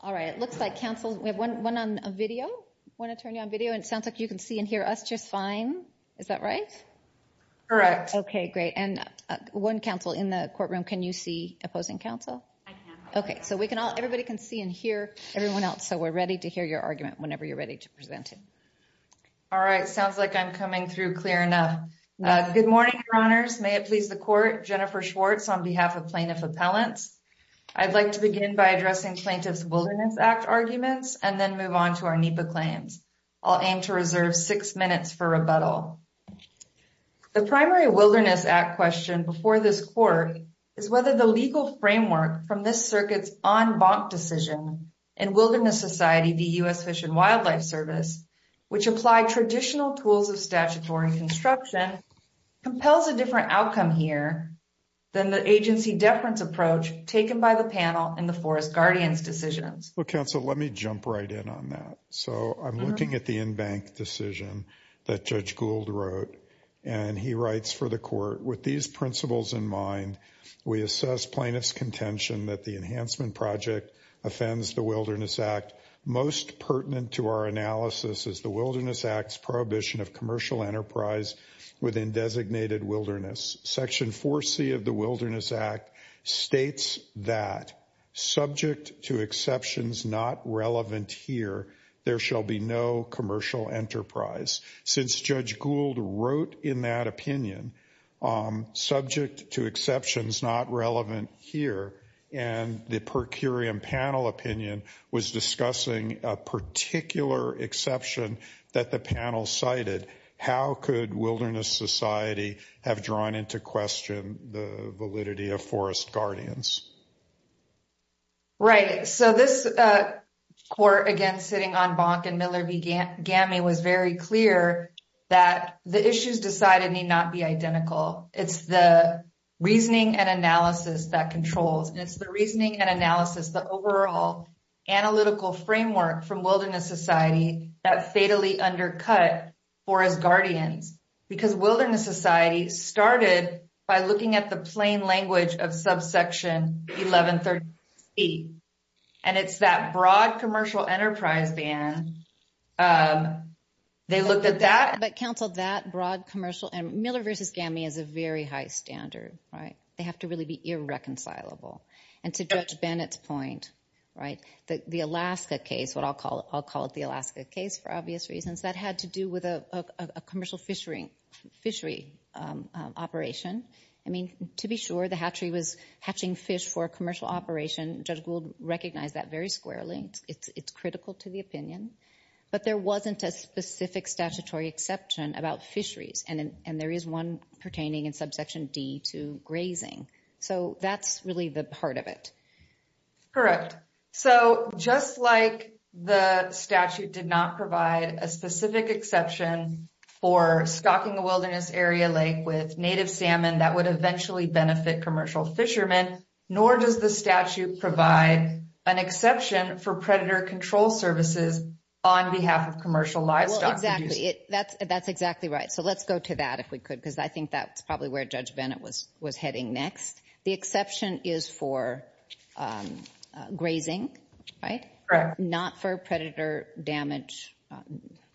All right, it looks like Council. We have one on video. I want to turn you on video and it sounds like you can see and hear us just fine. Is that right? Correct. Okay, great. And one Council in the courtroom, can you see opposing Council? Okay, so we can all everybody can see and hear everyone else so we're ready to hear your argument whenever you're ready to present it. All right, sounds like I'm coming through clear enough. Good morning, your honors. May it please the court Jennifer Schwartz on behalf of plaintiff appellants. I'd like to begin by addressing plaintiff's Wilderness Act arguments and then move on to our NEPA claims. I'll aim to reserve six minutes for rebuttal. The primary Wilderness Act question before this court is whether the legal framework from this circuits on bonk decision and Wilderness Society, the US Fish and Wildlife Service, which apply traditional tools of statutory construction compels a different outcome here. Then the agency deference approach taken by the panel in the Forest Guardians decisions. Well, Council, let me jump right in on that. So I'm looking at the in bank decision that Judge Gould wrote and he writes for the court with these principles in mind. We assess plaintiff's contention that the Enhancement Project offends the Wilderness Act most pertinent to our analysis is the Wilderness Acts prohibition of commercial enterprise within designated Wilderness Section 4C of the Wilderness Act states that subject to exceptions not relevant here. There shall be no commercial enterprise since Judge Gould wrote in that opinion subject to exceptions not relevant here and the per curiam panel opinion was discussing a particular exception that the panel cited. How could Wilderness Society have drawn into question the validity of Forest Guardians? Right, so this court again sitting on bonk and Miller v Gammy was very clear that the issues decided need not be identical. It's the reasoning and analysis that controls and it's the reasoning and analysis. The overall analytical framework from Wilderness Society that fatally undercut. Forest Guardians because Wilderness Society started by looking at the plain language of subsection 1130 and it's that broad commercial enterprise ban. They looked at that but counseled that broad commercial and Miller versus Gammy is a very high standard, right? They have to really be irreconcilable and to judge Bennett's point, right? The Alaska case what I'll call it. I'll call it the Alaska case for obvious reasons that had to do with a commercial fishery fishery operation. I mean to be sure the hatchery was hatching fish for commercial operation. Judge Gould recognized that very squarely. It's critical to the opinion, but there wasn't a specific statutory exception about fisheries and there is one pertaining in subsection D to grazing. So that's really the part of it. Correct, so just like the statute did not provide a specific exception for stocking the Wilderness Area Lake with native salmon that would eventually benefit commercial fishermen, nor does the statute provide an exception for predator control services on behalf of commercial livestock. Well, exactly. That's exactly right. So let's go to that if we could because I think that's probably where Judge Bennett was heading next. The exception is for grazing, right? Not for predator damage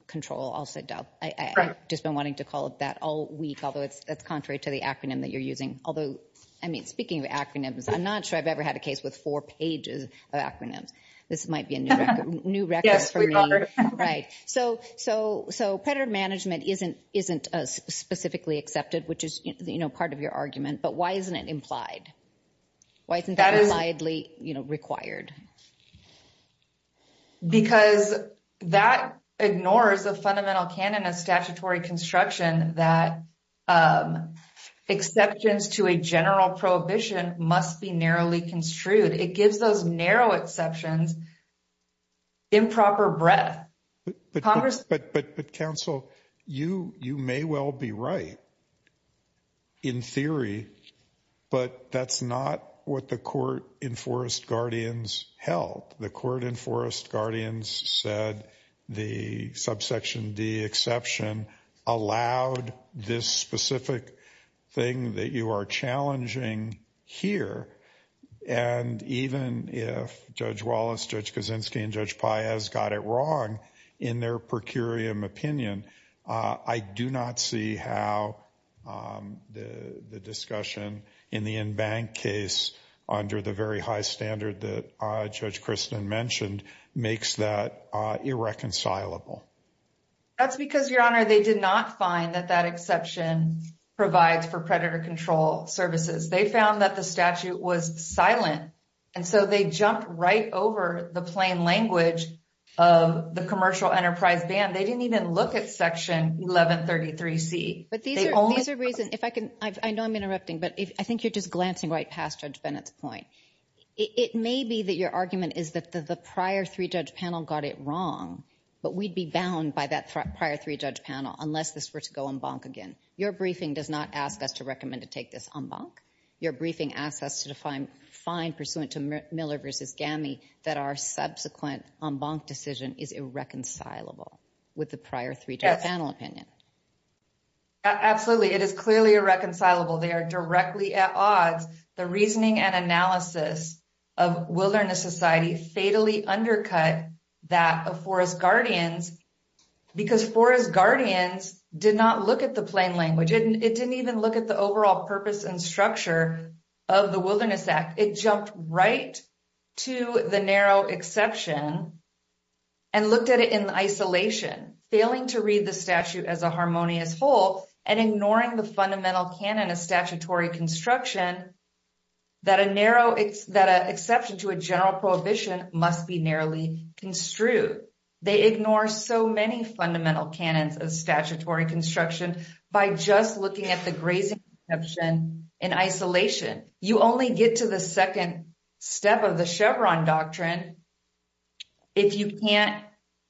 control, I'll say. I've just been wanting to call it that all week, although it's contrary to the acronym that you're using. Although, I mean, speaking of acronyms, I'm not sure I've ever had a case with four pages of acronyms. This might be a new record for me. Right, so predator management isn't specifically accepted, which is part of your argument, but why isn't it implied? Why isn't that reliably required? Because that ignores the fundamental canon of statutory construction that exceptions to a general prohibition must be narrowly construed. It gives those narrow exceptions improper breadth. But, but, but, but counsel, you, you may well be right, in theory, but that's not what the court enforced guardians held. The court enforced guardians said the subsection D exception allowed this specific thing that you are challenging here. And even if Judge Wallace, Judge Kaczynski, and Judge Paez got it wrong in their per curiam opinion, I do not see how the discussion in the in-bank case under the very high standard that Judge Christen mentioned makes that irreconcilable. That's because, Your Honor, they did not find that that exception provides for predator control services. They found that the statute was silent, and so they jumped right over the plain language of the commercial enterprise ban. They didn't even look at Section 1133C. But these are, these are reasons, if I can, I know I'm interrupting, but I think you're just glancing right past Judge Bennett's point. It may be that your argument is that the prior three-judge panel got it wrong, but we'd be bound by that prior three-judge panel unless this were to go en banc again. Absolutely. It is clearly irreconcilable. They are directly at odds. The reasoning and analysis of wilderness society fatally undercut that of forest guardians because forest guardians did not look at the plain language. It didn't even look at the overall purpose and structure of the Wilderness Act. It jumped right to the narrow exception and looked at it in isolation, failing to read the statute as a harmonious whole and ignoring the fundamental canon of statutory construction that a narrow, that an exception to a general prohibition must be narrowly construed. They ignore so many fundamental canons of statutory construction by just looking at the grazing exception in isolation. You only get to the second step of the Chevron doctrine if you can't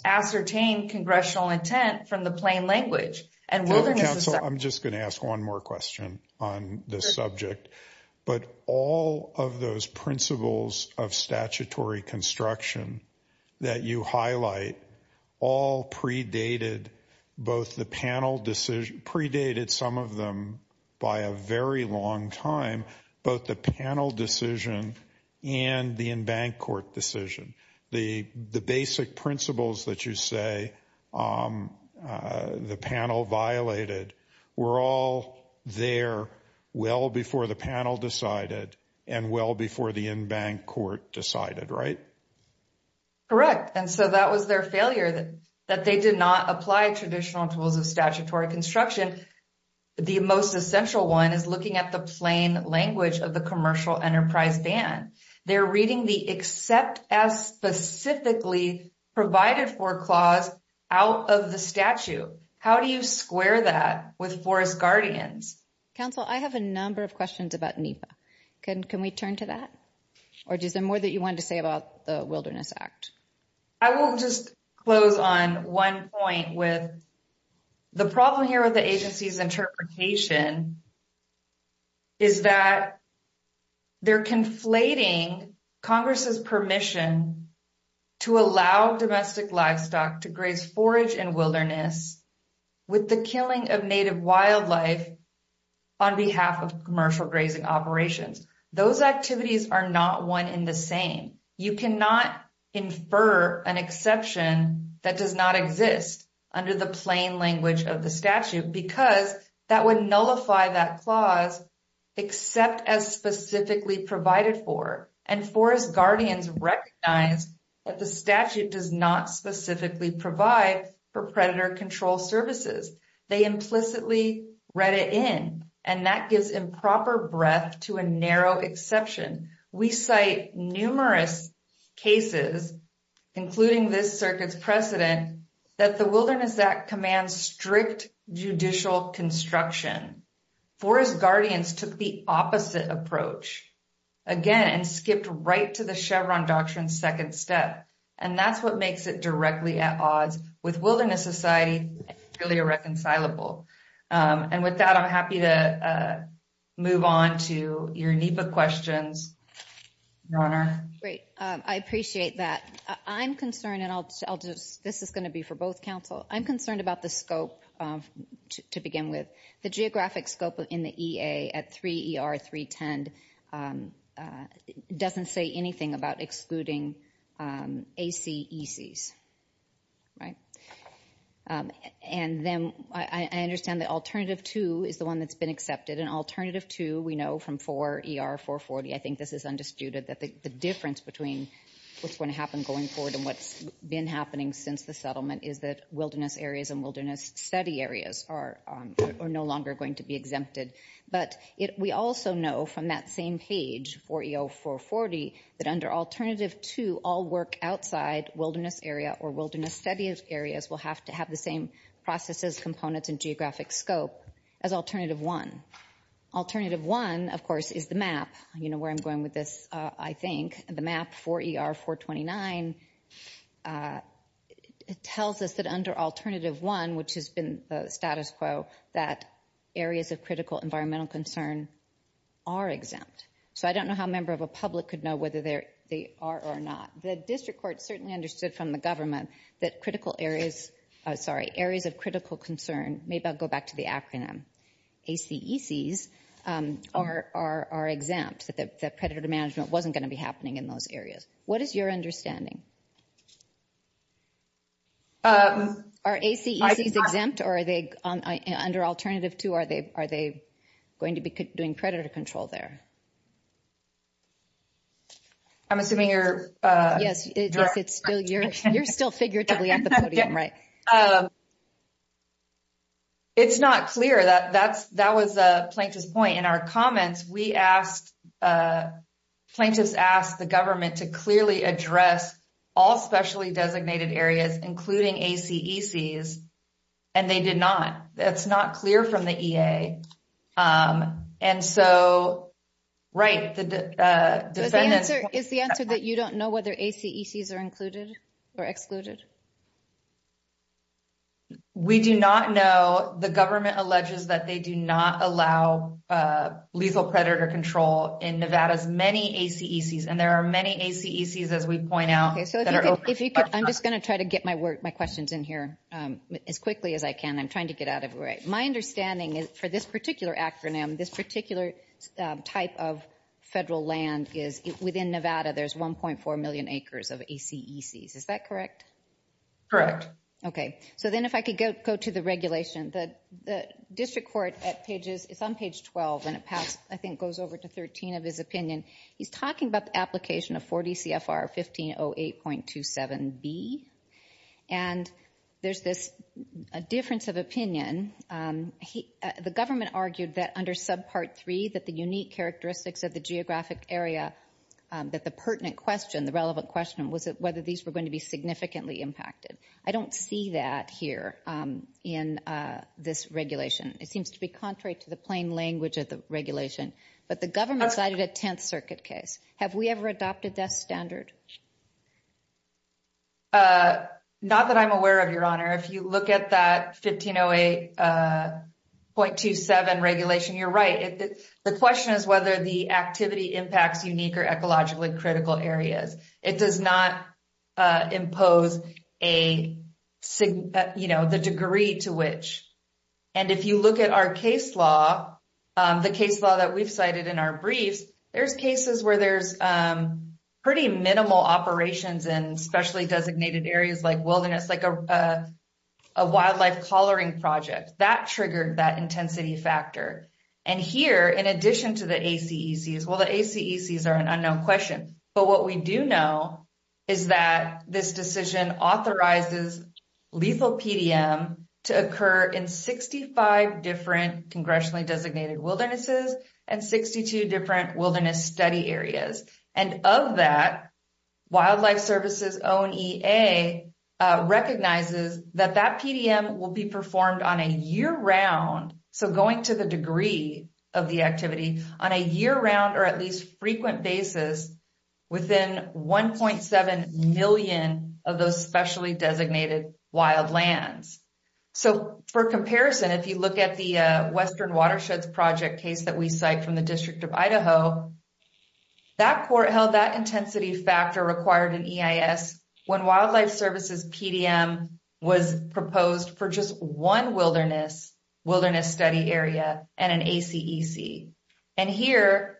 ascertain congressional intent from the plain language. I'm just going to ask one more question on this subject. But all of those principles of statutory construction that you highlight all predated both the panel decision, predated some of them by a very long time, both the panel decision and the en banc court decision. The basic principles that you say the panel violated were all there well before the panel decided and well before the en banc court decided, right? Correct. And so that was their failure that they did not apply traditional tools of statutory construction. The most essential one is looking at the plain language of the commercial enterprise ban. They're reading the except as specifically provided for clause out of the statute. How do you square that with forest guardians? Council, I have a number of questions about NEPA. Can we turn to that? Or is there more that you wanted to say about the Wilderness Act? I will just close on one point with the problem here with the agency's interpretation is that they're conflating Congress's permission to allow domestic livestock to graze forage in wilderness with the killing of native wildlife on behalf of commercial grazing operations. Those activities are not one in the same. You cannot infer an exception that does not exist under the plain language of the statute because that would nullify that clause except as specifically provided for. And forest guardians recognize that the statute does not specifically provide for predator control services. They implicitly read it in, and that gives improper breadth to a narrow exception. We cite numerous cases, including this circuit's precedent, that the Wilderness Act commands strict judicial construction. Forest guardians took the opposite approach, again, and skipped right to the Chevron Doctrine's second step. And that's what makes it directly at odds with wilderness society and really irreconcilable. And with that, I'm happy to move on to your NEPA questions. Your Honor. Great. I appreciate that. I'm concerned, and this is going to be for both counsel. I'm concerned about the scope to begin with. The geographic scope in the EA at 3ER310 doesn't say anything about excluding ACECs. Right? And then I understand that Alternative 2 is the one that's been accepted. And Alternative 2, we know from 4ER440, I think this is undisputed, that the difference between what's going to happen going forward and what's been happening since the settlement is that wilderness areas and wilderness study areas are no longer going to be exempted. But we also know from that same page, 4ER440, that under Alternative 2, all work outside wilderness area or wilderness study areas will have to have the same processes, components, and geographic scope as Alternative 1. Alternative 1, of course, is the map. You know where I'm going with this, I think. The map, 4ER429, tells us that under Alternative 1, which has been the status quo, that areas of critical environmental concern are exempt. So I don't know how a member of a public could know whether they are or not. The district court certainly understood from the government that areas of critical concern, maybe I'll go back to the acronym, ACECs are exempt, that predator management wasn't going to be happening in those areas. What is your understanding? Are ACECs exempt or are they, under Alternative 2, are they going to be doing predator control there? I'm assuming you're- Yes, you're still figuratively at the podium, right? It's not clear. That was Plaintiff's point. In our comments, plaintiffs asked the government to clearly address all specially designated areas, including ACECs, and they did not. That's not clear from the EA. Is the answer that you don't know whether ACECs are included or excluded? We do not know. The government alleges that they do not allow lethal predator control in Nevada's many ACECs, and there are many ACECs, as we point out- I'm just going to try to get my questions in here as quickly as I can. I'm trying to get out of the way. My understanding is for this particular acronym, this particular type of federal land is within Nevada, there's 1.4 million acres of ACECs. Is that correct? Correct. Okay. So then if I could go to the regulation. The district court, it's on page 12, and it goes over to 13 of his opinion. He's talking about the application of 4 DCFR 1508.27B, and there's this difference of opinion. The government argued that under subpart three, that the unique characteristics of the geographic area, that the pertinent question, the relevant question, was whether these were going to be significantly impacted. I don't see that here in this regulation. It seems to be contrary to the plain language of the regulation. But the government cited a Tenth Circuit case. Have we ever adopted that standard? Not that I'm aware of, Your Honor. If you look at that 1508.27 regulation, you're right. The question is whether the activity impacts unique or ecologically critical areas. It does not impose the degree to which. And if you look at our case law, the case law that we've cited in our briefs, there's cases where there's pretty minimal operations in specially designated areas like wilderness, like a wildlife collaring project. That triggered that intensity factor. And here, in addition to the ACECs, well, the ACECs are an unknown question, but what we do know is that this decision authorizes lethal PDM to occur in 65 different congressionally designated wildernesses and 62 different wilderness study areas. And of that, Wildlife Services' own EA recognizes that that PDM will be performed on a year-round, so going to the degree of the activity, on a year-round or at least frequent basis within 1.7 million of those specially designated wildlands. So, for comparison, if you look at the Western Watersheds Project case that we cite from the District of Idaho, that court held that intensity factor required in EIS when Wildlife Services' PDM was proposed for just 1 wilderness study area and an ACEC. And here,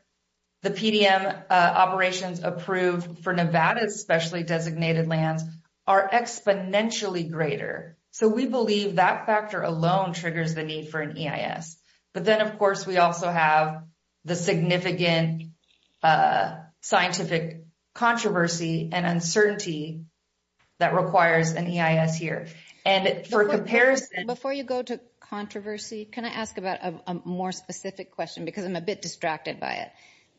the PDM operations approved for Nevada's specially designated lands are exponentially greater. So, we believe that factor alone triggers the need for an EIS. But then, of course, we also have the significant scientific controversy and uncertainty that requires an EIS here. Before you go to controversy, can I ask about a more specific question? Because I'm a bit distracted by it.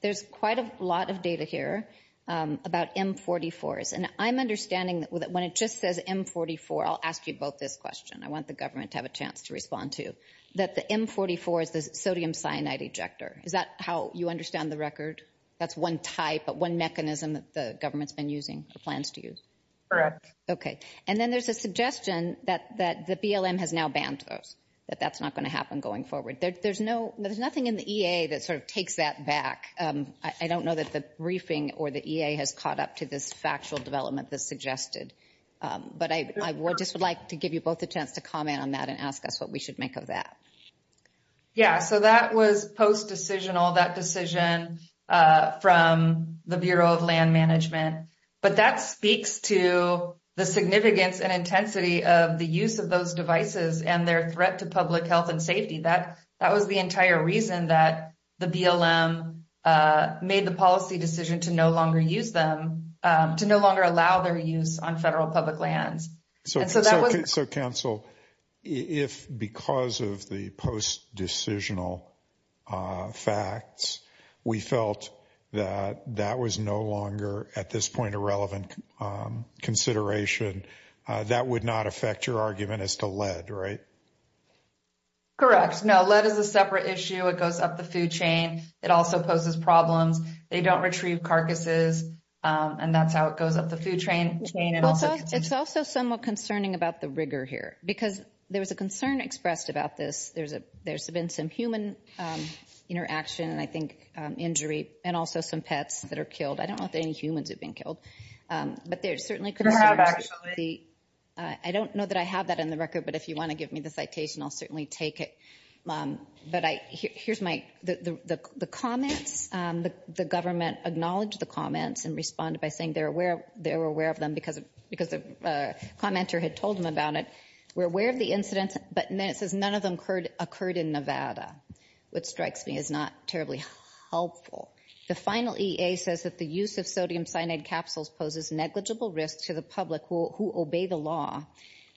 There's quite a lot of data here about M44s. And I'm understanding that when it just says M44, I'll ask you both this question. I want the government to have a chance to respond to, that the M44 is the sodium cyanide ejector. Is that how you understand the record? That's one type, one mechanism that the government's been using or plans to use? Correct. Okay. And then there's a suggestion that the BLM has now banned those, that that's not going to happen going forward. There's nothing in the EA that sort of takes that back. I don't know that the briefing or the EA has caught up to this factual development that's suggested. But I just would like to give you both a chance to comment on that and ask us what we should make of that. Yeah, so that was post-decisional, that decision from the Bureau of Land Management. But that speaks to the significance and intensity of the use of those devices and their threat to public health and safety. That was the entire reason that the BLM made the policy decision to no longer use them, to no longer allow their use on federal public lands. So Council, if because of the post-decisional facts, we felt that that was no longer at this point a relevant consideration, that would not affect your argument as to lead, right? Correct. No, lead is a separate issue. It goes up the food chain. It also poses problems. They don't retrieve carcasses. And that's how it goes up the food chain. It's also somewhat concerning about the rigor here, because there was a concern expressed about this. There's been some human interaction, I think, injury, and also some pets that are killed. I don't know if any humans have been killed. You have, actually. I don't know that I have that in the record, but if you want to give me the citation, I'll certainly take it. But here's the comments. The government acknowledged the comments and responded by saying they were aware of them because a commenter had told them about it. We're aware of the incidents, but it says none of them occurred in Nevada, which strikes me as not terribly helpful. The final EA says that the use of sodium cyanide capsules poses negligible risk to the public who obey the law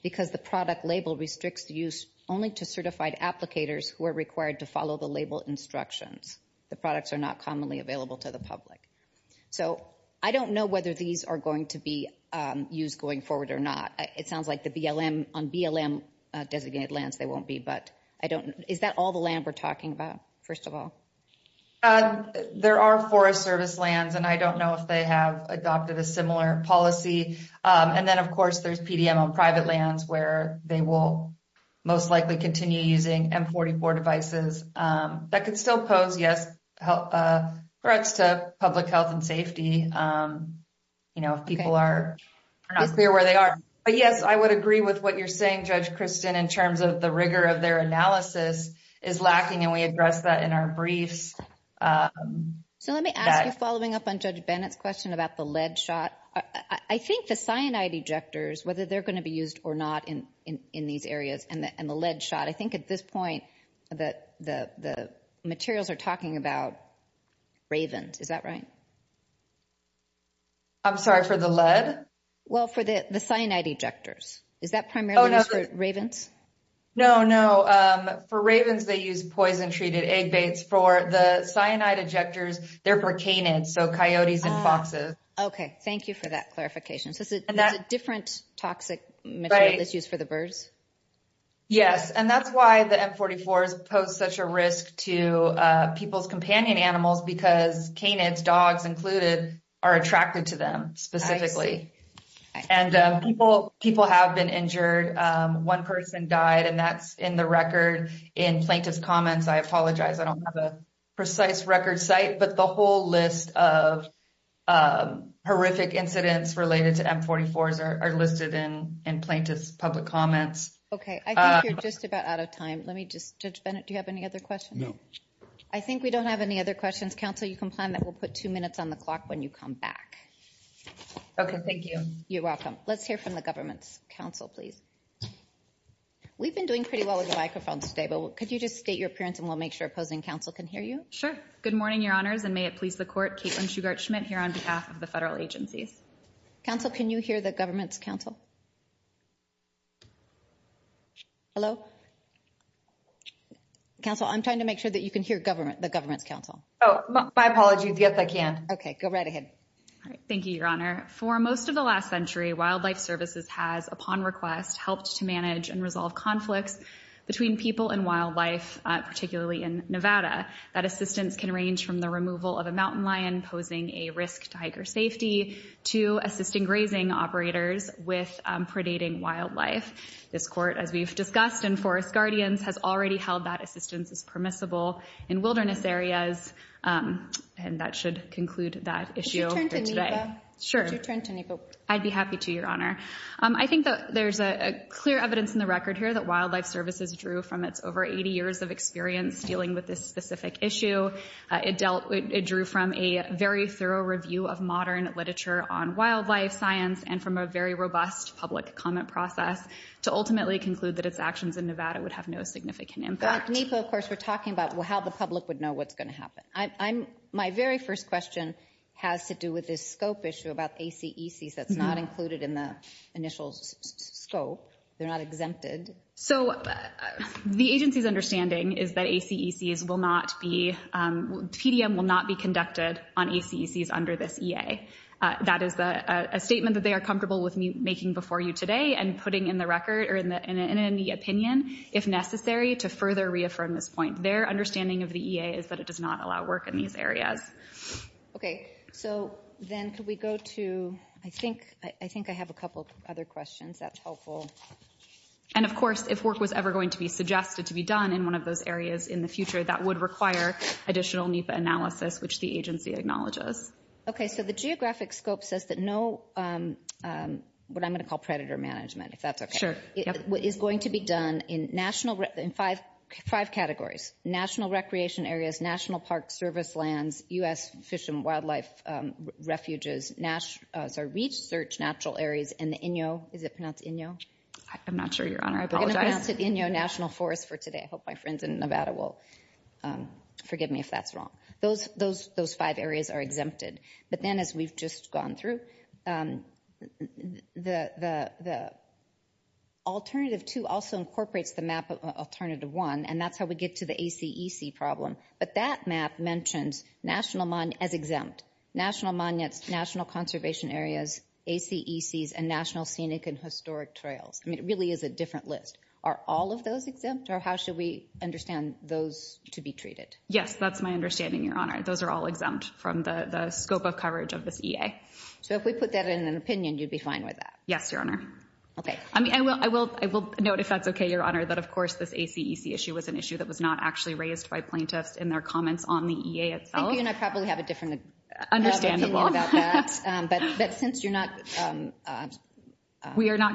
because the product label restricts the use only to certified applicators who are required to follow the label instructions. The products are not commonly available to the public. So I don't know whether these are going to be used going forward or not. It sounds like on BLM designated lands they won't be, but I don't know. Is that all the land we're talking about, first of all? There are Forest Service lands, and I don't know if they have adopted a similar policy. And then, of course, there's PDM on private lands where they will most likely continue using M44 devices. That could still pose threats to public health and safety if people are not clear where they are. But yes, I would agree with what you're saying, Judge Kristen, in terms of the rigor of their analysis is lacking, and we addressed that in our briefs. So let me ask you, following up on Judge Bennett's question about the lead shot, I think the cyanide ejectors, whether they're going to be used or not in these areas, and the lead shot, I think at this point the materials are talking about Ravens. Is that right? I'm sorry, for the lead? Well, for the cyanide ejectors. Is that primarily used for Ravens? No, no. For Ravens, they use poison-treated egg baits. For the cyanide ejectors, they're for canids, so coyotes and foxes. Okay, thank you for that clarification. So it's a different toxic material that's used for the birds? Yes, and that's why the M44s pose such a risk to people's companion animals because canids, dogs included, are attracted to them specifically. And people have been injured. One person died, and that's in the record in plaintiff's comments. I apologize, I don't have a precise record site, but the whole list of horrific incidents related to M44s are listed in plaintiff's public comments. Okay, I think you're just about out of time. Judge Bennett, do you have any other questions? No. I think we don't have any other questions. Counsel, you can plan that. We'll put two minutes on the clock when you come back. Okay, thank you. You're welcome. Let's hear from the government's counsel, please. We've been doing pretty well with the microphones today, but could you just state your appearance, and we'll make sure opposing counsel can hear you? Sure. Good morning, Your Honors, and may it please the Court. Caitlin Shugart-Schmidt here on behalf of the federal agencies. Counsel, can you hear the government's counsel? Hello? Counsel, I'm trying to make sure that you can hear the government's counsel. Oh, my apologies. Yes, I can. Okay, go right ahead. Thank you, Your Honor. For most of the last century, Wildlife Services has, upon request, helped to manage and resolve conflicts between people and wildlife, particularly in Nevada. That assistance can range from the removal of a mountain lion, posing a risk to hiker safety, to assisting grazing operators with predating wildlife. This Court, as we've discussed in Forest Guardians, has already held that assistance as permissible in wilderness areas, and that should conclude that issue for today. Could you turn to NEPA? Sure. Could you turn to NEPA? I'd be happy to, Your Honor. I think that there's clear evidence in the record here that Wildlife Services drew from its over 80 years of experience dealing with this specific issue. It drew from a very thorough review of modern literature on wildlife science and from a very robust public comment process to ultimately conclude that its actions in Nevada would have no significant impact. Like NEPA, of course, we're talking about how the public would know what's going to happen. My very first question has to do with this scope issue about ACECs that's not included in the initial scope. They're not exempted. So the agency's understanding is that PDM will not be conducted on ACECs under this EA. That is a statement that they are comfortable with making before you today and putting in the record or in any opinion, if necessary, to further reaffirm this point. Their understanding of the EA is that it does not allow work in these areas. Okay. So then could we go to, I think I have a couple other questions. That's helpful. And, of course, if work was ever going to be suggested to be done in one of those areas in the future, that would require additional NEPA analysis, which the agency acknowledges. Okay. So the geographic scope says that no, what I'm going to call predator management, if that's okay. Sure. What is going to be done in five categories, national recreation areas, national park service lands, U.S. fish and wildlife refuges, research natural areas, and the Inyo, is it pronounced Inyo? I'm not sure, Your Honor. I apologize. We're going to pronounce it Inyo National Forest for today. I hope my friends in Nevada will forgive me if that's wrong. Those five areas are exempted. But then, as we've just gone through, the alternative two also incorporates the map of alternative one, and that's how we get to the ACEC problem. But that map mentions national as exempt, national conservation areas, ACECs, and national scenic and historic trails. I mean, it really is a different list. Are all of those exempt, or how should we understand those to be treated? Yes, that's my understanding, Your Honor. Those are all exempt from the scope of coverage of this EA. So if we put that in an opinion, you'd be fine with that? Yes, Your Honor. Okay. I will note, if that's okay, Your Honor, that, of course, this ACEC issue was an issue that was not actually raised by plaintiffs in their comments on the EA itself. Thank you, and I probably have a different opinion about that. But since you're not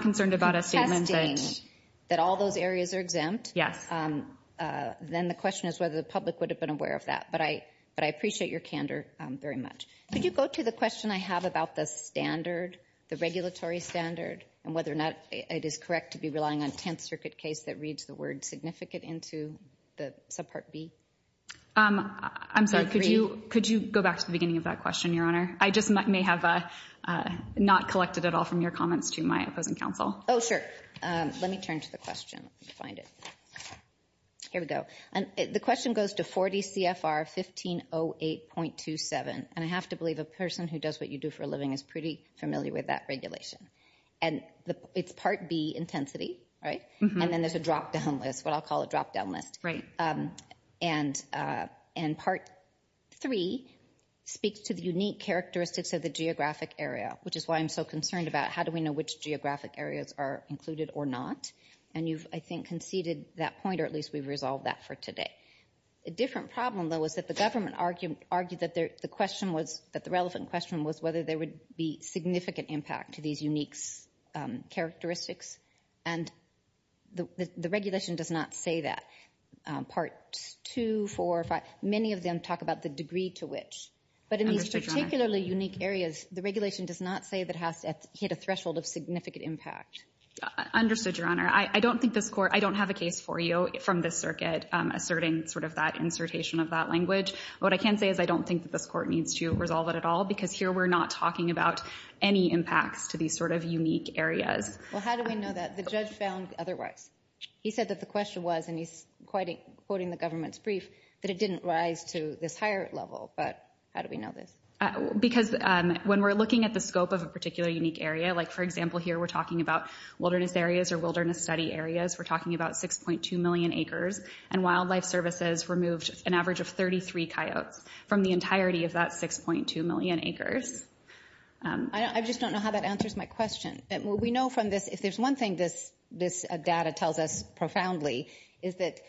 contesting that all those areas are exempt, then the question is whether the public would have been aware of that. But I appreciate your candor very much. Could you go to the question I have about the standard, the regulatory standard, and whether or not it is correct to be relying on a Tenth Circuit case that reads the word significant into the subpart B? I'm sorry, could you go back to the beginning of that question, Your Honor? I just may have not collected at all from your comments to my opposing counsel. Oh, sure. Let me turn to the question. Let me find it. Here we go. The question goes to 40 CFR 1508.27. And I have to believe a person who does what you do for a living is pretty familiar with that regulation. And it's Part B, intensity, right? And then there's a drop-down list, what I'll call a drop-down list. Right. And Part 3 speaks to the unique characteristics of the geographic area, which is why I'm so concerned about how do we know which geographic areas are included or not. And you've, I think, conceded that point, or at least we've resolved that for today. A different problem, though, is that the government argued that the question was, that the relevant question was whether there would be significant impact to these unique characteristics. And the regulation does not say that. Part 2, 4, 5, many of them talk about the degree to which. But in these particularly unique areas, the regulation does not say that it has to hit a threshold of significant impact. Understood, Your Honor. I don't think this court, I don't have a case for you from this circuit asserting sort of that insertion of that language. What I can say is I don't think that this court needs to resolve it at all because here we're not talking about any impacts to these sort of unique areas. Well, how do we know that? The judge found otherwise. He said that the question was, and he's quoting the government's brief, that it didn't rise to this higher level. But how do we know this? Because when we're looking at the scope of a particular unique area, like, for example, here we're talking about wilderness areas or wilderness study areas, we're talking about 6.2 million acres, and wildlife services removed an average of 33 coyotes from the entirety of that 6.2 million acres. I just don't know how that answers my question. We know from this, if there's one thing this data tells us profoundly, is that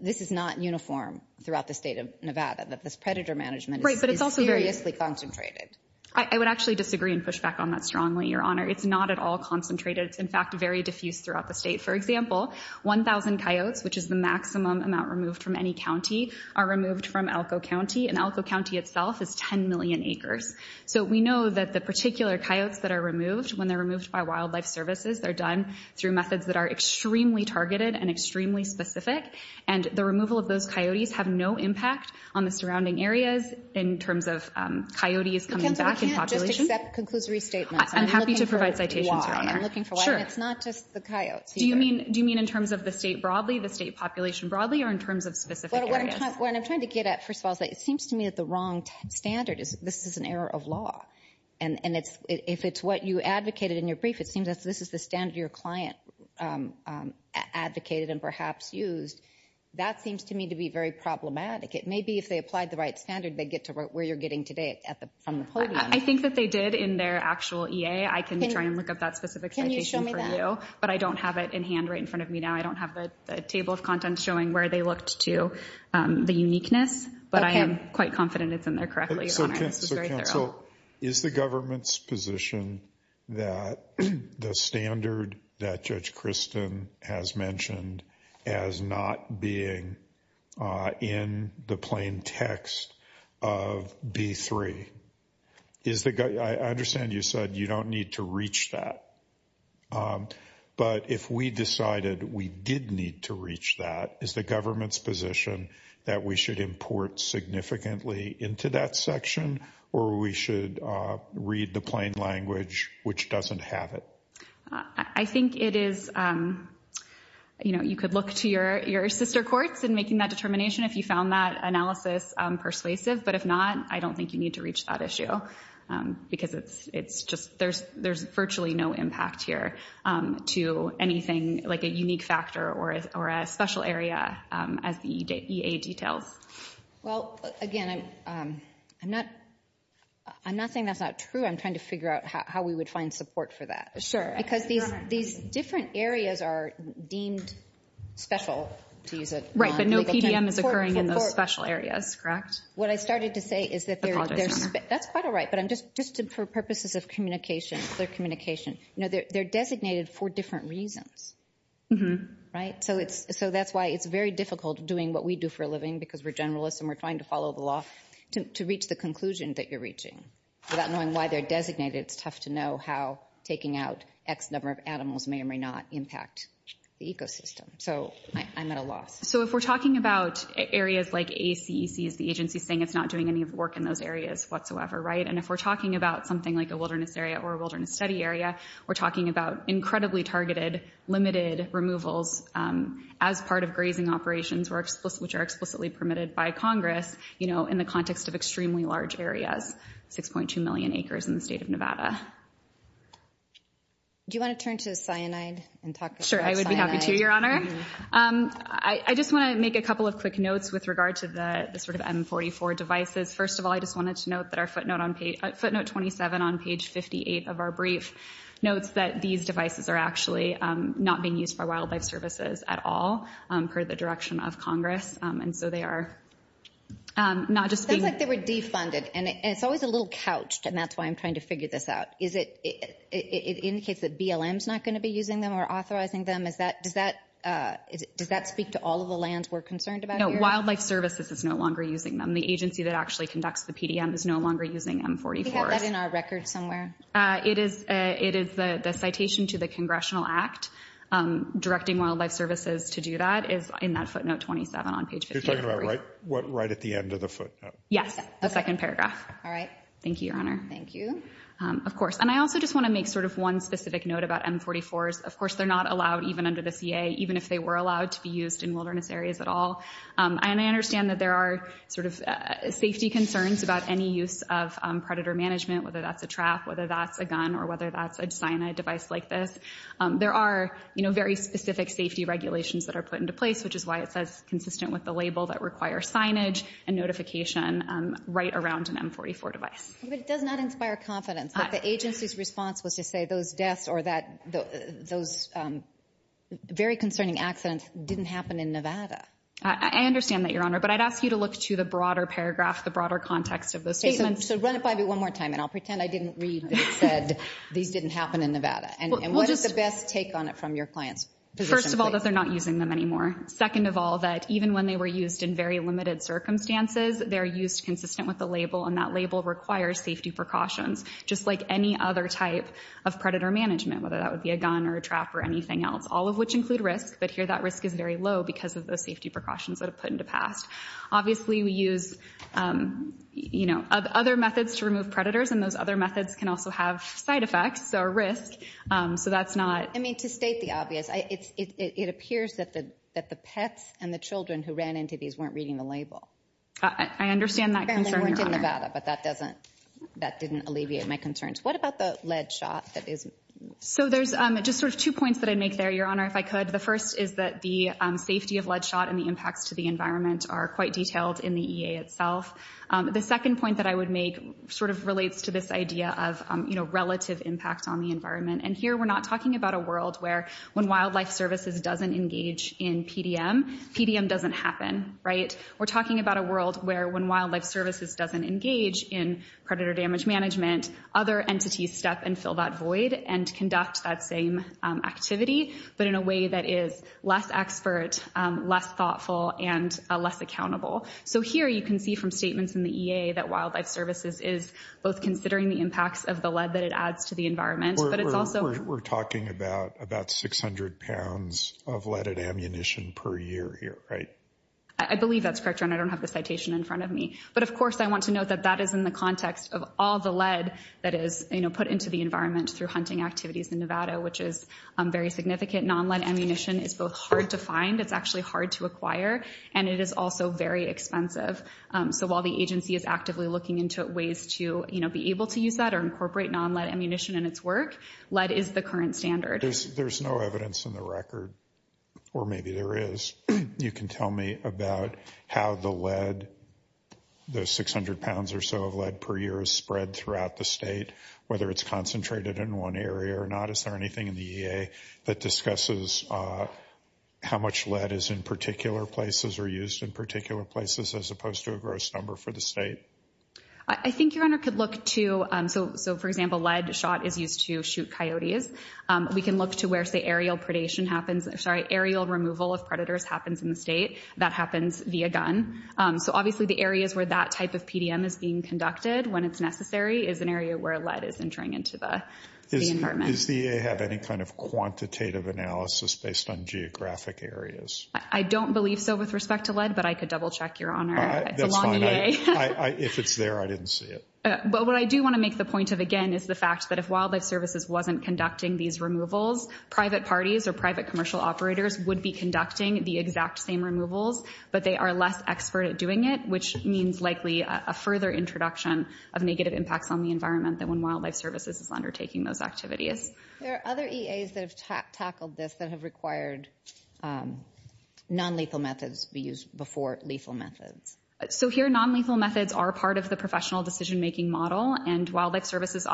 this is not uniform throughout the state of Nevada, that this predator management is seriously concentrated. I would actually disagree and push back on that strongly, Your Honor. It's not at all concentrated. It's, in fact, very diffuse throughout the state. For example, 1,000 coyotes, which is the maximum amount removed from any county, are removed from Elko County, and Elko County itself is 10 million acres. So we know that the particular coyotes that are removed, when they're removed by wildlife services, they're done through methods that are extremely targeted and extremely specific, and the removal of those coyotes have no impact on the surrounding areas in terms of coyotes coming back in population. We can't just accept conclusory statements. I'm happy to provide citations, Your Honor. I'm looking for why, and it's not just the coyotes. Do you mean in terms of the state broadly, the state population broadly, or in terms of specific areas? What I'm trying to get at, first of all, is that it seems to me that the wrong standard is this is an error of law, and if it's what you advocated in your brief, it seems as if this is the standard your client advocated and perhaps used, that seems to me to be very problematic. It may be if they applied the right standard, they get to where you're getting today from the podium. I think that they did in their actual EA. I can try and look up that specific citation for you. But I don't have it in hand right in front of me now. I don't have the table of contents showing where they looked to the uniqueness, but I am quite confident it's in there correctly, Your Honor. This is very thorough. So is the government's position that the standard that Judge Kristen has mentioned as not being in the plain text of B3, I understand you said you don't need to reach that, but if we decided we did need to reach that, is the government's position that we should import significantly into that section, or we should read the plain language, which doesn't have it? I think it is, you know, you could look to your sister courts in making that determination if you found that analysis persuasive, but if not, I don't think you need to reach that issue because it's just, there's virtually no impact here to anything, like a unique factor or a special area as the EA details. Well, again, I'm not saying that's not true. I'm trying to figure out how we would find support for that. Sure. Because these different areas are deemed special to use it on. Right, but no PDM is occurring in those special areas, correct? What I started to say is that there's, that's quite all right, but just for purposes of communication, clear communication, you know, they're designated for different reasons, right? So that's why it's very difficult doing what we do for a living because we're generalists and we're trying to follow the law to reach the conclusion that you're reaching. Without knowing why they're designated, it's tough to know how taking out X number of animals may or may not impact the ecosystem. So I'm at a loss. So if we're talking about areas like ACEC is the agency saying it's not doing any work in those areas whatsoever, right? And if we're talking about something like a wilderness area or a wilderness study area, we're talking about incredibly targeted limited removals as part of grazing operations, which are explicitly permitted by Congress, you know, in the context of extremely large areas, 6.2 million acres in the state of Nevada. Do you want to turn to cyanide and talk about cyanide? Sure, I would be happy to, Your Honor. I just want to make a couple of quick notes with regard to the sort of M44 devices. First of all, I just wanted to note that our footnote 27 on page 58 of our brief notes that these devices are actually not being used for wildlife services at all per the direction of Congress. And so they are not just being ---- It sounds like they were defunded. And it's always a little couched, and that's why I'm trying to figure this out. It indicates that BLM is not going to be using them or authorizing them. Does that speak to all of the lands we're concerned about here? No, Wildlife Services is no longer using them. The agency that actually conducts the PDM is no longer using M44s. We have that in our record somewhere. It is the citation to the Congressional Act directing Wildlife Services to do that is in that footnote 27 on page 58. You're talking about right at the end of the footnote? Yes, the second paragraph. All right. Thank you, Your Honor. Thank you. Of course, and I also just want to make sort of one specific note about M44s. Of course, they're not allowed even under the CA, even if they were allowed to be used in wilderness areas at all. And I understand that there are sort of safety concerns about any use of predator management, whether that's a trap, whether that's a gun, or whether that's a cyanide device like this. There are, you know, very specific safety regulations that are put into place, which is why it says consistent with the label that require signage and notification right around an M44 device. But it does not inspire confidence that the agency's response was to say those deaths or that those very concerning accidents didn't happen in Nevada. I understand that, Your Honor. But I'd ask you to look to the broader paragraph, the broader context of those statements. So run it by me one more time, and I'll pretend I didn't read that it said these didn't happen in Nevada. And what is the best take on it from your client's position? First of all, that they're not using them anymore. Second of all, that even when they were used in very limited circumstances, they're used consistent with the label, and that label requires safety precautions, just like any other type of predator management, whether that would be a gun or a trap or anything else, all of which include risk, but here that risk is very low because of the safety precautions that are put into pass. Obviously, we use, you know, other methods to remove predators, and those other methods can also have side effects or risk, so that's not. I mean, to state the obvious, it appears that the pets and the children who ran into these weren't reading the label. I understand that concern, Your Honor. Apparently weren't in Nevada, but that didn't alleviate my concerns. What about the lead shot? So there's just sort of two points that I'd make there, Your Honor, if I could. The first is that the safety of lead shot and the impacts to the environment are quite detailed in the EA itself. The second point that I would make sort of relates to this idea of, you know, relative impact on the environment, and here we're not talking about a world where when wildlife services doesn't engage in PDM, PDM doesn't happen, right? We're talking about a world where when wildlife services doesn't engage in predator damage management, other entities step and fill that void and conduct that same activity, but in a way that is less expert, less thoughtful, and less accountable. So here you can see from statements in the EA that wildlife services is both considering the impacts of the lead that it adds to the environment, but it's also— We're talking about 600 pounds of leaded ammunition per year here, right? I believe that's correct, Your Honor. I don't have the citation in front of me. But, of course, I want to note that that is in the context of all the lead that is, you know, put into the environment through hunting activities in Nevada, which is very significant. Nonlead ammunition is both hard to find—it's actually hard to acquire—and it is also very expensive. So while the agency is actively looking into ways to, you know, be able to use that or incorporate nonlead ammunition in its work, lead is the current standard. There's no evidence in the record, or maybe there is. You can tell me about how the lead, the 600 pounds or so of lead per year is spread throughout the state, whether it's concentrated in one area or not. Is there anything in the EA that discusses how much lead is in particular places or used in particular places as opposed to a gross number for the state? I think Your Honor could look to—so, for example, lead shot is used to shoot coyotes. We can look to where, say, aerial predation happens—sorry, aerial removal of predators happens in the state. That happens via gun. So, obviously, the areas where that type of PDM is being conducted when it's necessary is an area where lead is entering into the environment. Does the EA have any kind of quantitative analysis based on geographic areas? I don't believe so with respect to lead, but I could double-check, Your Honor. That's fine. If it's there, I didn't see it. But what I do want to make the point of, again, is the fact that if Wildlife Services wasn't conducting these removals, private parties or private commercial operators would be conducting the exact same removals, but they are less expert at doing it, which means likely a further introduction of negative impacts on the environment than when Wildlife Services is undertaking those activities. There are other EAs that have tackled this that have required nonlethal methods be used before lethal methods. So here, nonlethal methods are part of the professional decision-making model, and Wildlife Services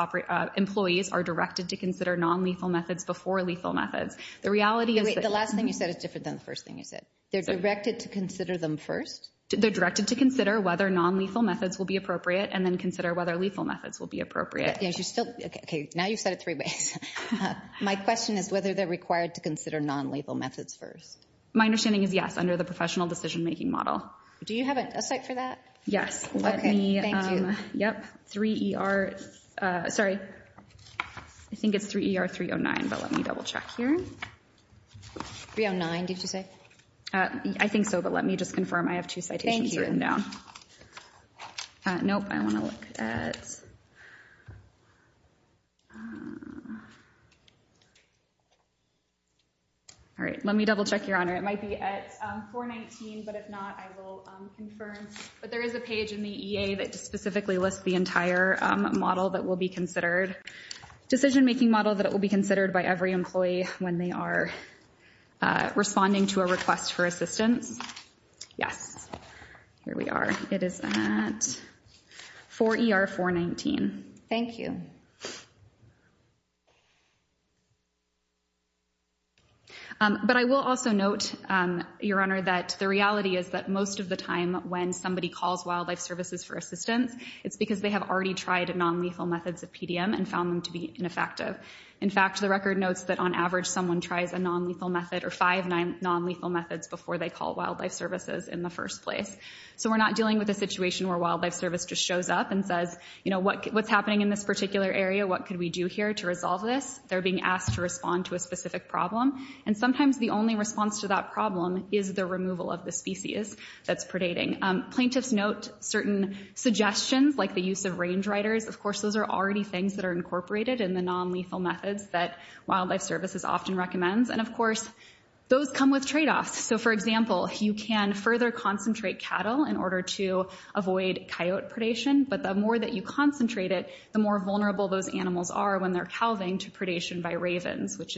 employees are directed to consider nonlethal methods before lethal methods. The reality is— Wait, the last thing you said is different than the first thing you said. They're directed to consider them first? They're directed to consider whether nonlethal methods will be appropriate and then consider whether lethal methods will be appropriate. Okay, now you've said it three ways. My question is whether they're required to consider nonlethal methods first. My understanding is yes, under the professional decision-making model. Do you have a site for that? Yes, let me— Yep, 3ER—sorry, I think it's 3ER309, but let me double-check here. 309, did you say? I think so, but let me just confirm I have two citations written down. Thank you. Nope, I want to look at— All right, let me double-check, Your Honor. It might be at 419, but if not, I will confirm. But there is a page in the EA that specifically lists the entire model that will be considered— decision-making model that will be considered by every employee when they are responding to a request for assistance. Yes, here we are. It is at 4ER419. Thank you. But I will also note, Your Honor, that the reality is that most of the time when somebody calls Wildlife Services for assistance, it's because they have already tried nonlethal methods of PDM and found them to be ineffective. In fact, the record notes that, on average, someone tries a nonlethal method or five nonlethal methods before they call Wildlife Services in the first place. So we're not dealing with a situation where Wildlife Service just shows up and says, you know, what's happening in this particular area? What could we do here to resolve this? They're being asked to respond to a specific problem, and sometimes the only response to that problem is the removal of the species that's predating. Plaintiffs note certain suggestions, like the use of range riders. Of course, those are already things that are incorporated in the nonlethal methods that Wildlife Services often recommends. And, of course, those come with tradeoffs. So, for example, you can further concentrate cattle in order to avoid coyote predation, but the more that you concentrate it, the more vulnerable those animals are when they're calving to predation by ravens, which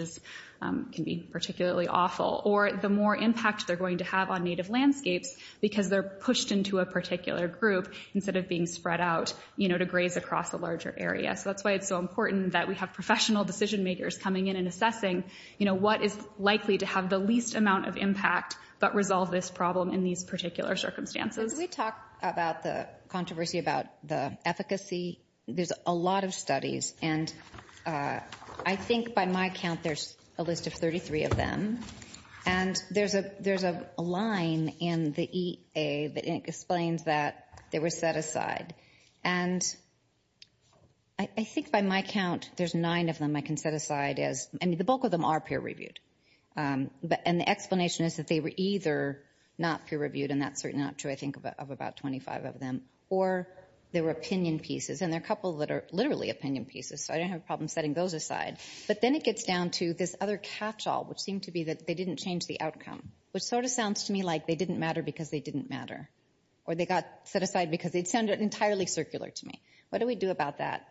can be particularly awful, or the more impact they're going to have on native landscapes because they're pushed into a particular group instead of being spread out, you know, to graze across a larger area. So that's why it's so important that we have professional decision makers coming in and assessing, you know, what is likely to have the least amount of impact but resolve this problem in these particular circumstances. Can we talk about the controversy about the efficacy? There's a lot of studies, and I think by my count there's a list of 33 of them. And there's a line in the EA that explains that they were set aside. And I think by my count there's nine of them I can set aside. I mean, the bulk of them are peer-reviewed. And the explanation is that they were either not peer-reviewed, and that's certainly not true, I think, of about 25 of them. Or they were opinion pieces. And there are a couple that are literally opinion pieces, so I don't have a problem setting those aside. But then it gets down to this other catch-all, which seemed to be that they didn't change the outcome, which sort of sounds to me like they didn't matter because they didn't matter, or they got set aside because they sounded entirely circular to me. What do we do about that?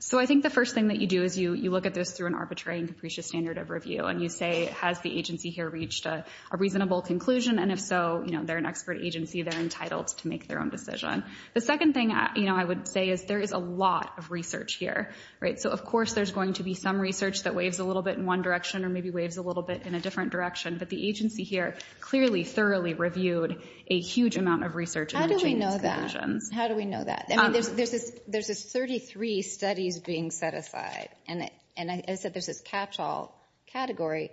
So I think the first thing that you do is you look at this through an arbitrary and capricious standard of review, and you say, has the agency here reached a reasonable conclusion? And if so, they're an expert agency. They're entitled to make their own decision. The second thing I would say is there is a lot of research here. So of course there's going to be some research that waves a little bit in one direction or maybe waves a little bit in a different direction. But the agency here clearly, thoroughly reviewed a huge amount of research. How do we know that? How do we know that? I mean, there's this 33 studies being set aside. And I said there's this catch-all category.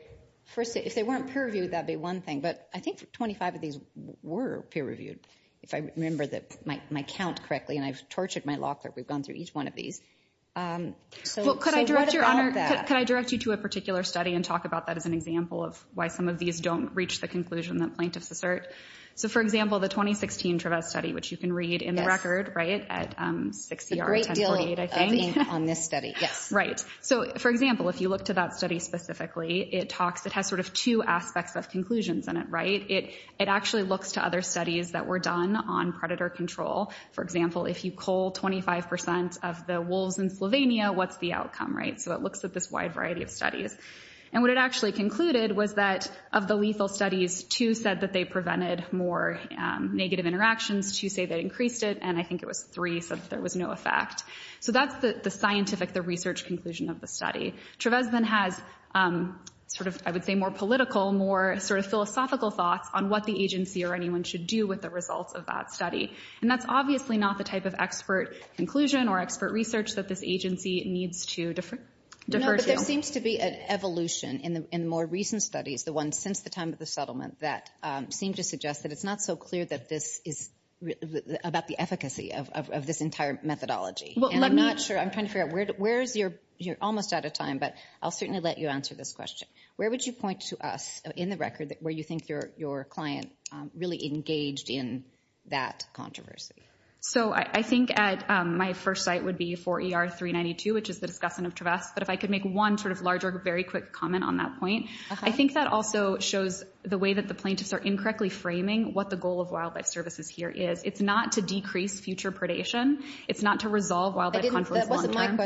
First, if they weren't peer-reviewed, that would be one thing. But I think 25 of these were peer-reviewed, if I remember my count correctly. And I've tortured my locker. We've gone through each one of these. So what about that? Well, could I direct you to a particular study and talk about that as an example of why some of these don't reach the conclusion that plaintiffs assert? So, for example, the 2016 Travezz study, which you can read in the record, right, at 6ER1048, I think. A great deal of ink on this study, yes. Right. So, for example, if you look to that study specifically, it has sort of two aspects of conclusions in it, right? It actually looks to other studies that were done on predator control. For example, if you cull 25% of the wolves in Slovenia, what's the outcome, right? So it looks at this wide variety of studies. And what it actually concluded was that of the lethal studies, two said that they prevented more negative interactions, two say they increased it, and I think it was three said there was no effect. So that's the scientific, the research conclusion of the study. Travezz then has sort of, I would say, more political, more sort of philosophical thoughts on what the agency or anyone should do with the results of that study. And that's obviously not the type of expert conclusion or expert research that this agency needs to defer to. No, but there seems to be an evolution in more recent studies, the ones since the time of the settlement, that seem to suggest that it's not so clear that this is about the efficacy of this entire methodology. And I'm not sure, I'm trying to figure out, you're almost out of time, but I'll certainly let you answer this question. Where would you point to us in the record where you think your client really engaged in that controversy? So I think at my first site would be 4ER392, which is the discussion of Travezz. But if I could make one sort of larger, very quick comment on that point. I think that also shows the way that the plaintiffs are incorrectly framing what the goal of wildlife services here is. It's not to decrease future predation. It's not to resolve wildlife conflicts long-term.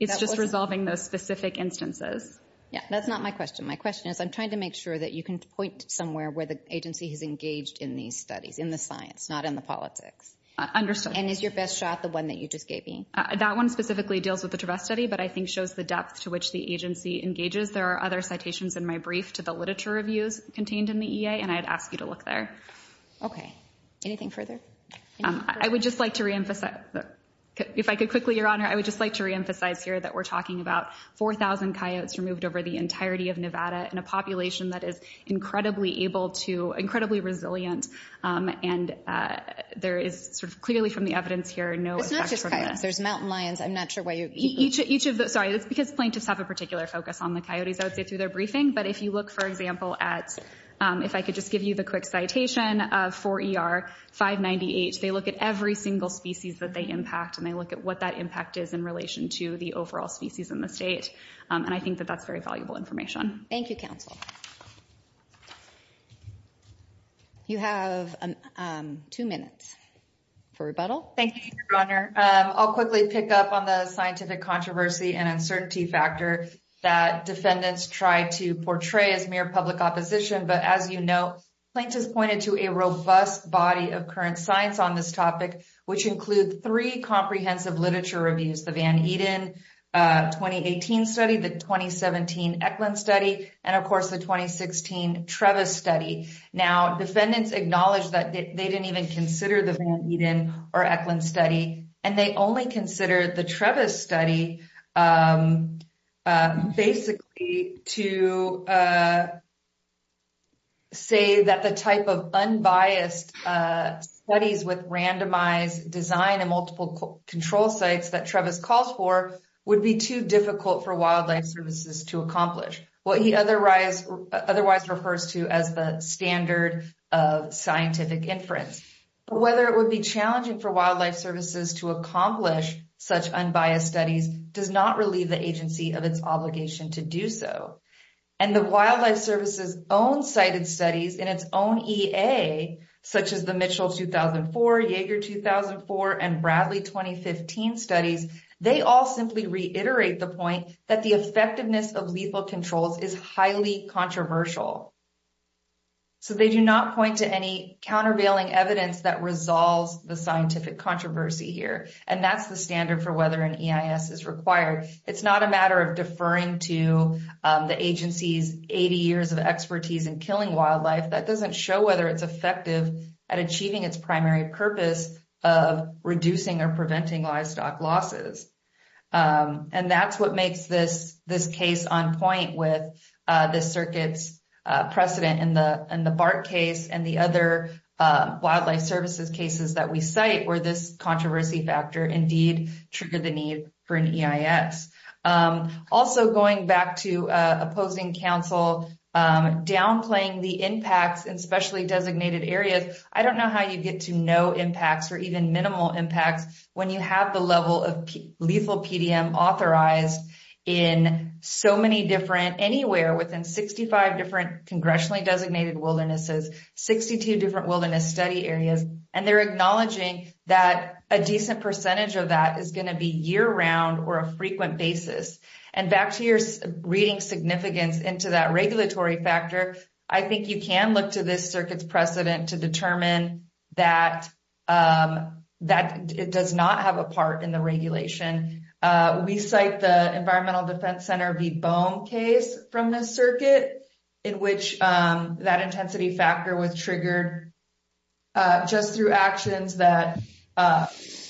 It's just resolving those specific instances. Yeah, that's not my question. My question is I'm trying to make sure that you can point somewhere where the agency has engaged in these studies, in the science, not in the politics. Understood. And is your best shot the one that you just gave me? That one specifically deals with the Travezz study, but I think shows the depth to which the agency engages. There are other citations in my brief to the literature reviews contained in the EA, and I'd ask you to look there. Okay. Anything further? I would just like to reemphasize, if I could quickly, Your Honor, I would just like to reemphasize here that we're talking about 4,000 coyotes removed over the entirety of Nevada in a population that is incredibly able to, incredibly resilient, and there is sort of clearly from the evidence here, no effect from this. There's mountain lions. I'm not sure why you're— Sorry, it's because plaintiffs have a particular focus on the coyotes, I would say, through their briefing. But if you look, for example, at, if I could just give you the quick citation, the definition of 4ER-598, they look at every single species that they impact and they look at what that impact is in relation to the overall species in the state. And I think that that's very valuable information. Thank you, Counsel. You have two minutes for rebuttal. Thank you, Your Honor. I'll quickly pick up on the scientific controversy and uncertainty factor that defendants try to portray as mere public opposition. But as you know, plaintiffs pointed to a robust body of current science on this topic, which include three comprehensive literature reviews, the Van Eden 2018 study, the 2017 Eklund study, and of course the 2016 Trevis study. Now, defendants acknowledge that they didn't even consider the Van Eden or Eklund study, and they only considered the Trevis study, basically to say that the type of unbiased studies with randomized design and multiple control sites that Trevis calls for would be too difficult for wildlife services to accomplish. What he otherwise refers to as the standard of scientific inference. Whether it would be challenging for wildlife services to accomplish such unbiased studies does not relieve the agency of its obligation to do so. And the wildlife services own cited studies in its own EA, such as the Mitchell 2004, Jaeger 2004, and Bradley 2015 studies, they all simply reiterate the point that the effectiveness of lethal controls is highly controversial. So they do not point to any countervailing evidence that resolves the scientific controversy here. And that's the standard for whether an EIS is required. It's not a matter of deferring to the agency's 80 years of expertise in killing wildlife. That doesn't show whether it's effective at achieving its primary purpose of reducing or preventing livestock losses. And that's what makes this case on point with the circuit's precedent in the BART case and the other wildlife services cases that we cite where this controversy factor indeed triggered the need for an EIS. Also going back to opposing council downplaying the impacts in specially designated areas. I don't know how you get to no impacts or even minimal impacts when you have the level of lethal PDM authorized in so many different, anywhere within 65 different congressionally designated wildernesses, 62 different wilderness study areas. And they're acknowledging that a decent percentage of that is going to be year round or a frequent basis. And back to your reading significance into that regulatory factor, I think you can look to this circuit's precedent to determine that it does not have a part in the regulation. We cite the environmental defense center, the bone case from the circuit in which that intensity factor was triggered just through actions that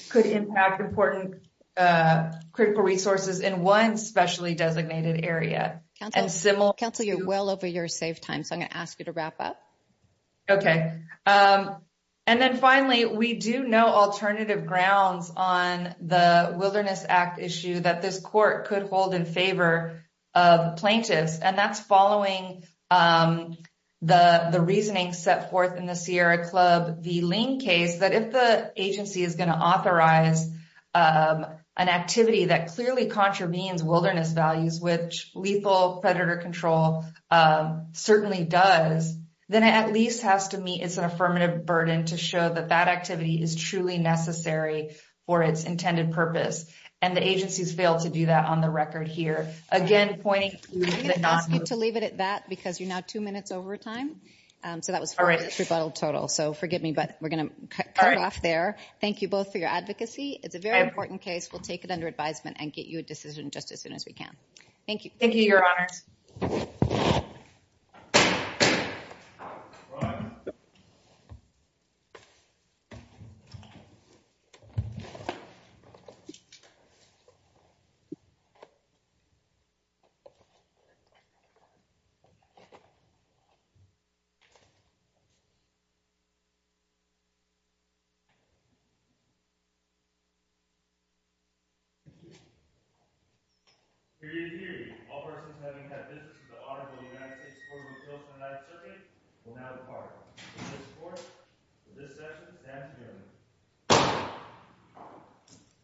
could impact important critical resources in one specially designated area. Council you're well over your save time. So I'm going to ask you to wrap up. Okay. And then finally we do know alternative grounds on the wilderness act issue that this court could hold in favor of plaintiffs and that's following the Sierra club, the link case, that if the agency is going to authorize an activity that clearly contravenes wilderness values, which lethal predator control certainly does, then it at least has to meet. It's an affirmative burden to show that that activity is truly necessary for its intended purpose. And the agency's failed to do that on the record here. Again, pointing to leave it at that because you're not two minutes over time. So that was for this rebuttal total. So forgive me, but we're going to cut off there. Thank you both for your advocacy. It's a very important case. We'll take it under advisement and get you a decision just as soon as we can. Thank you. Thank you.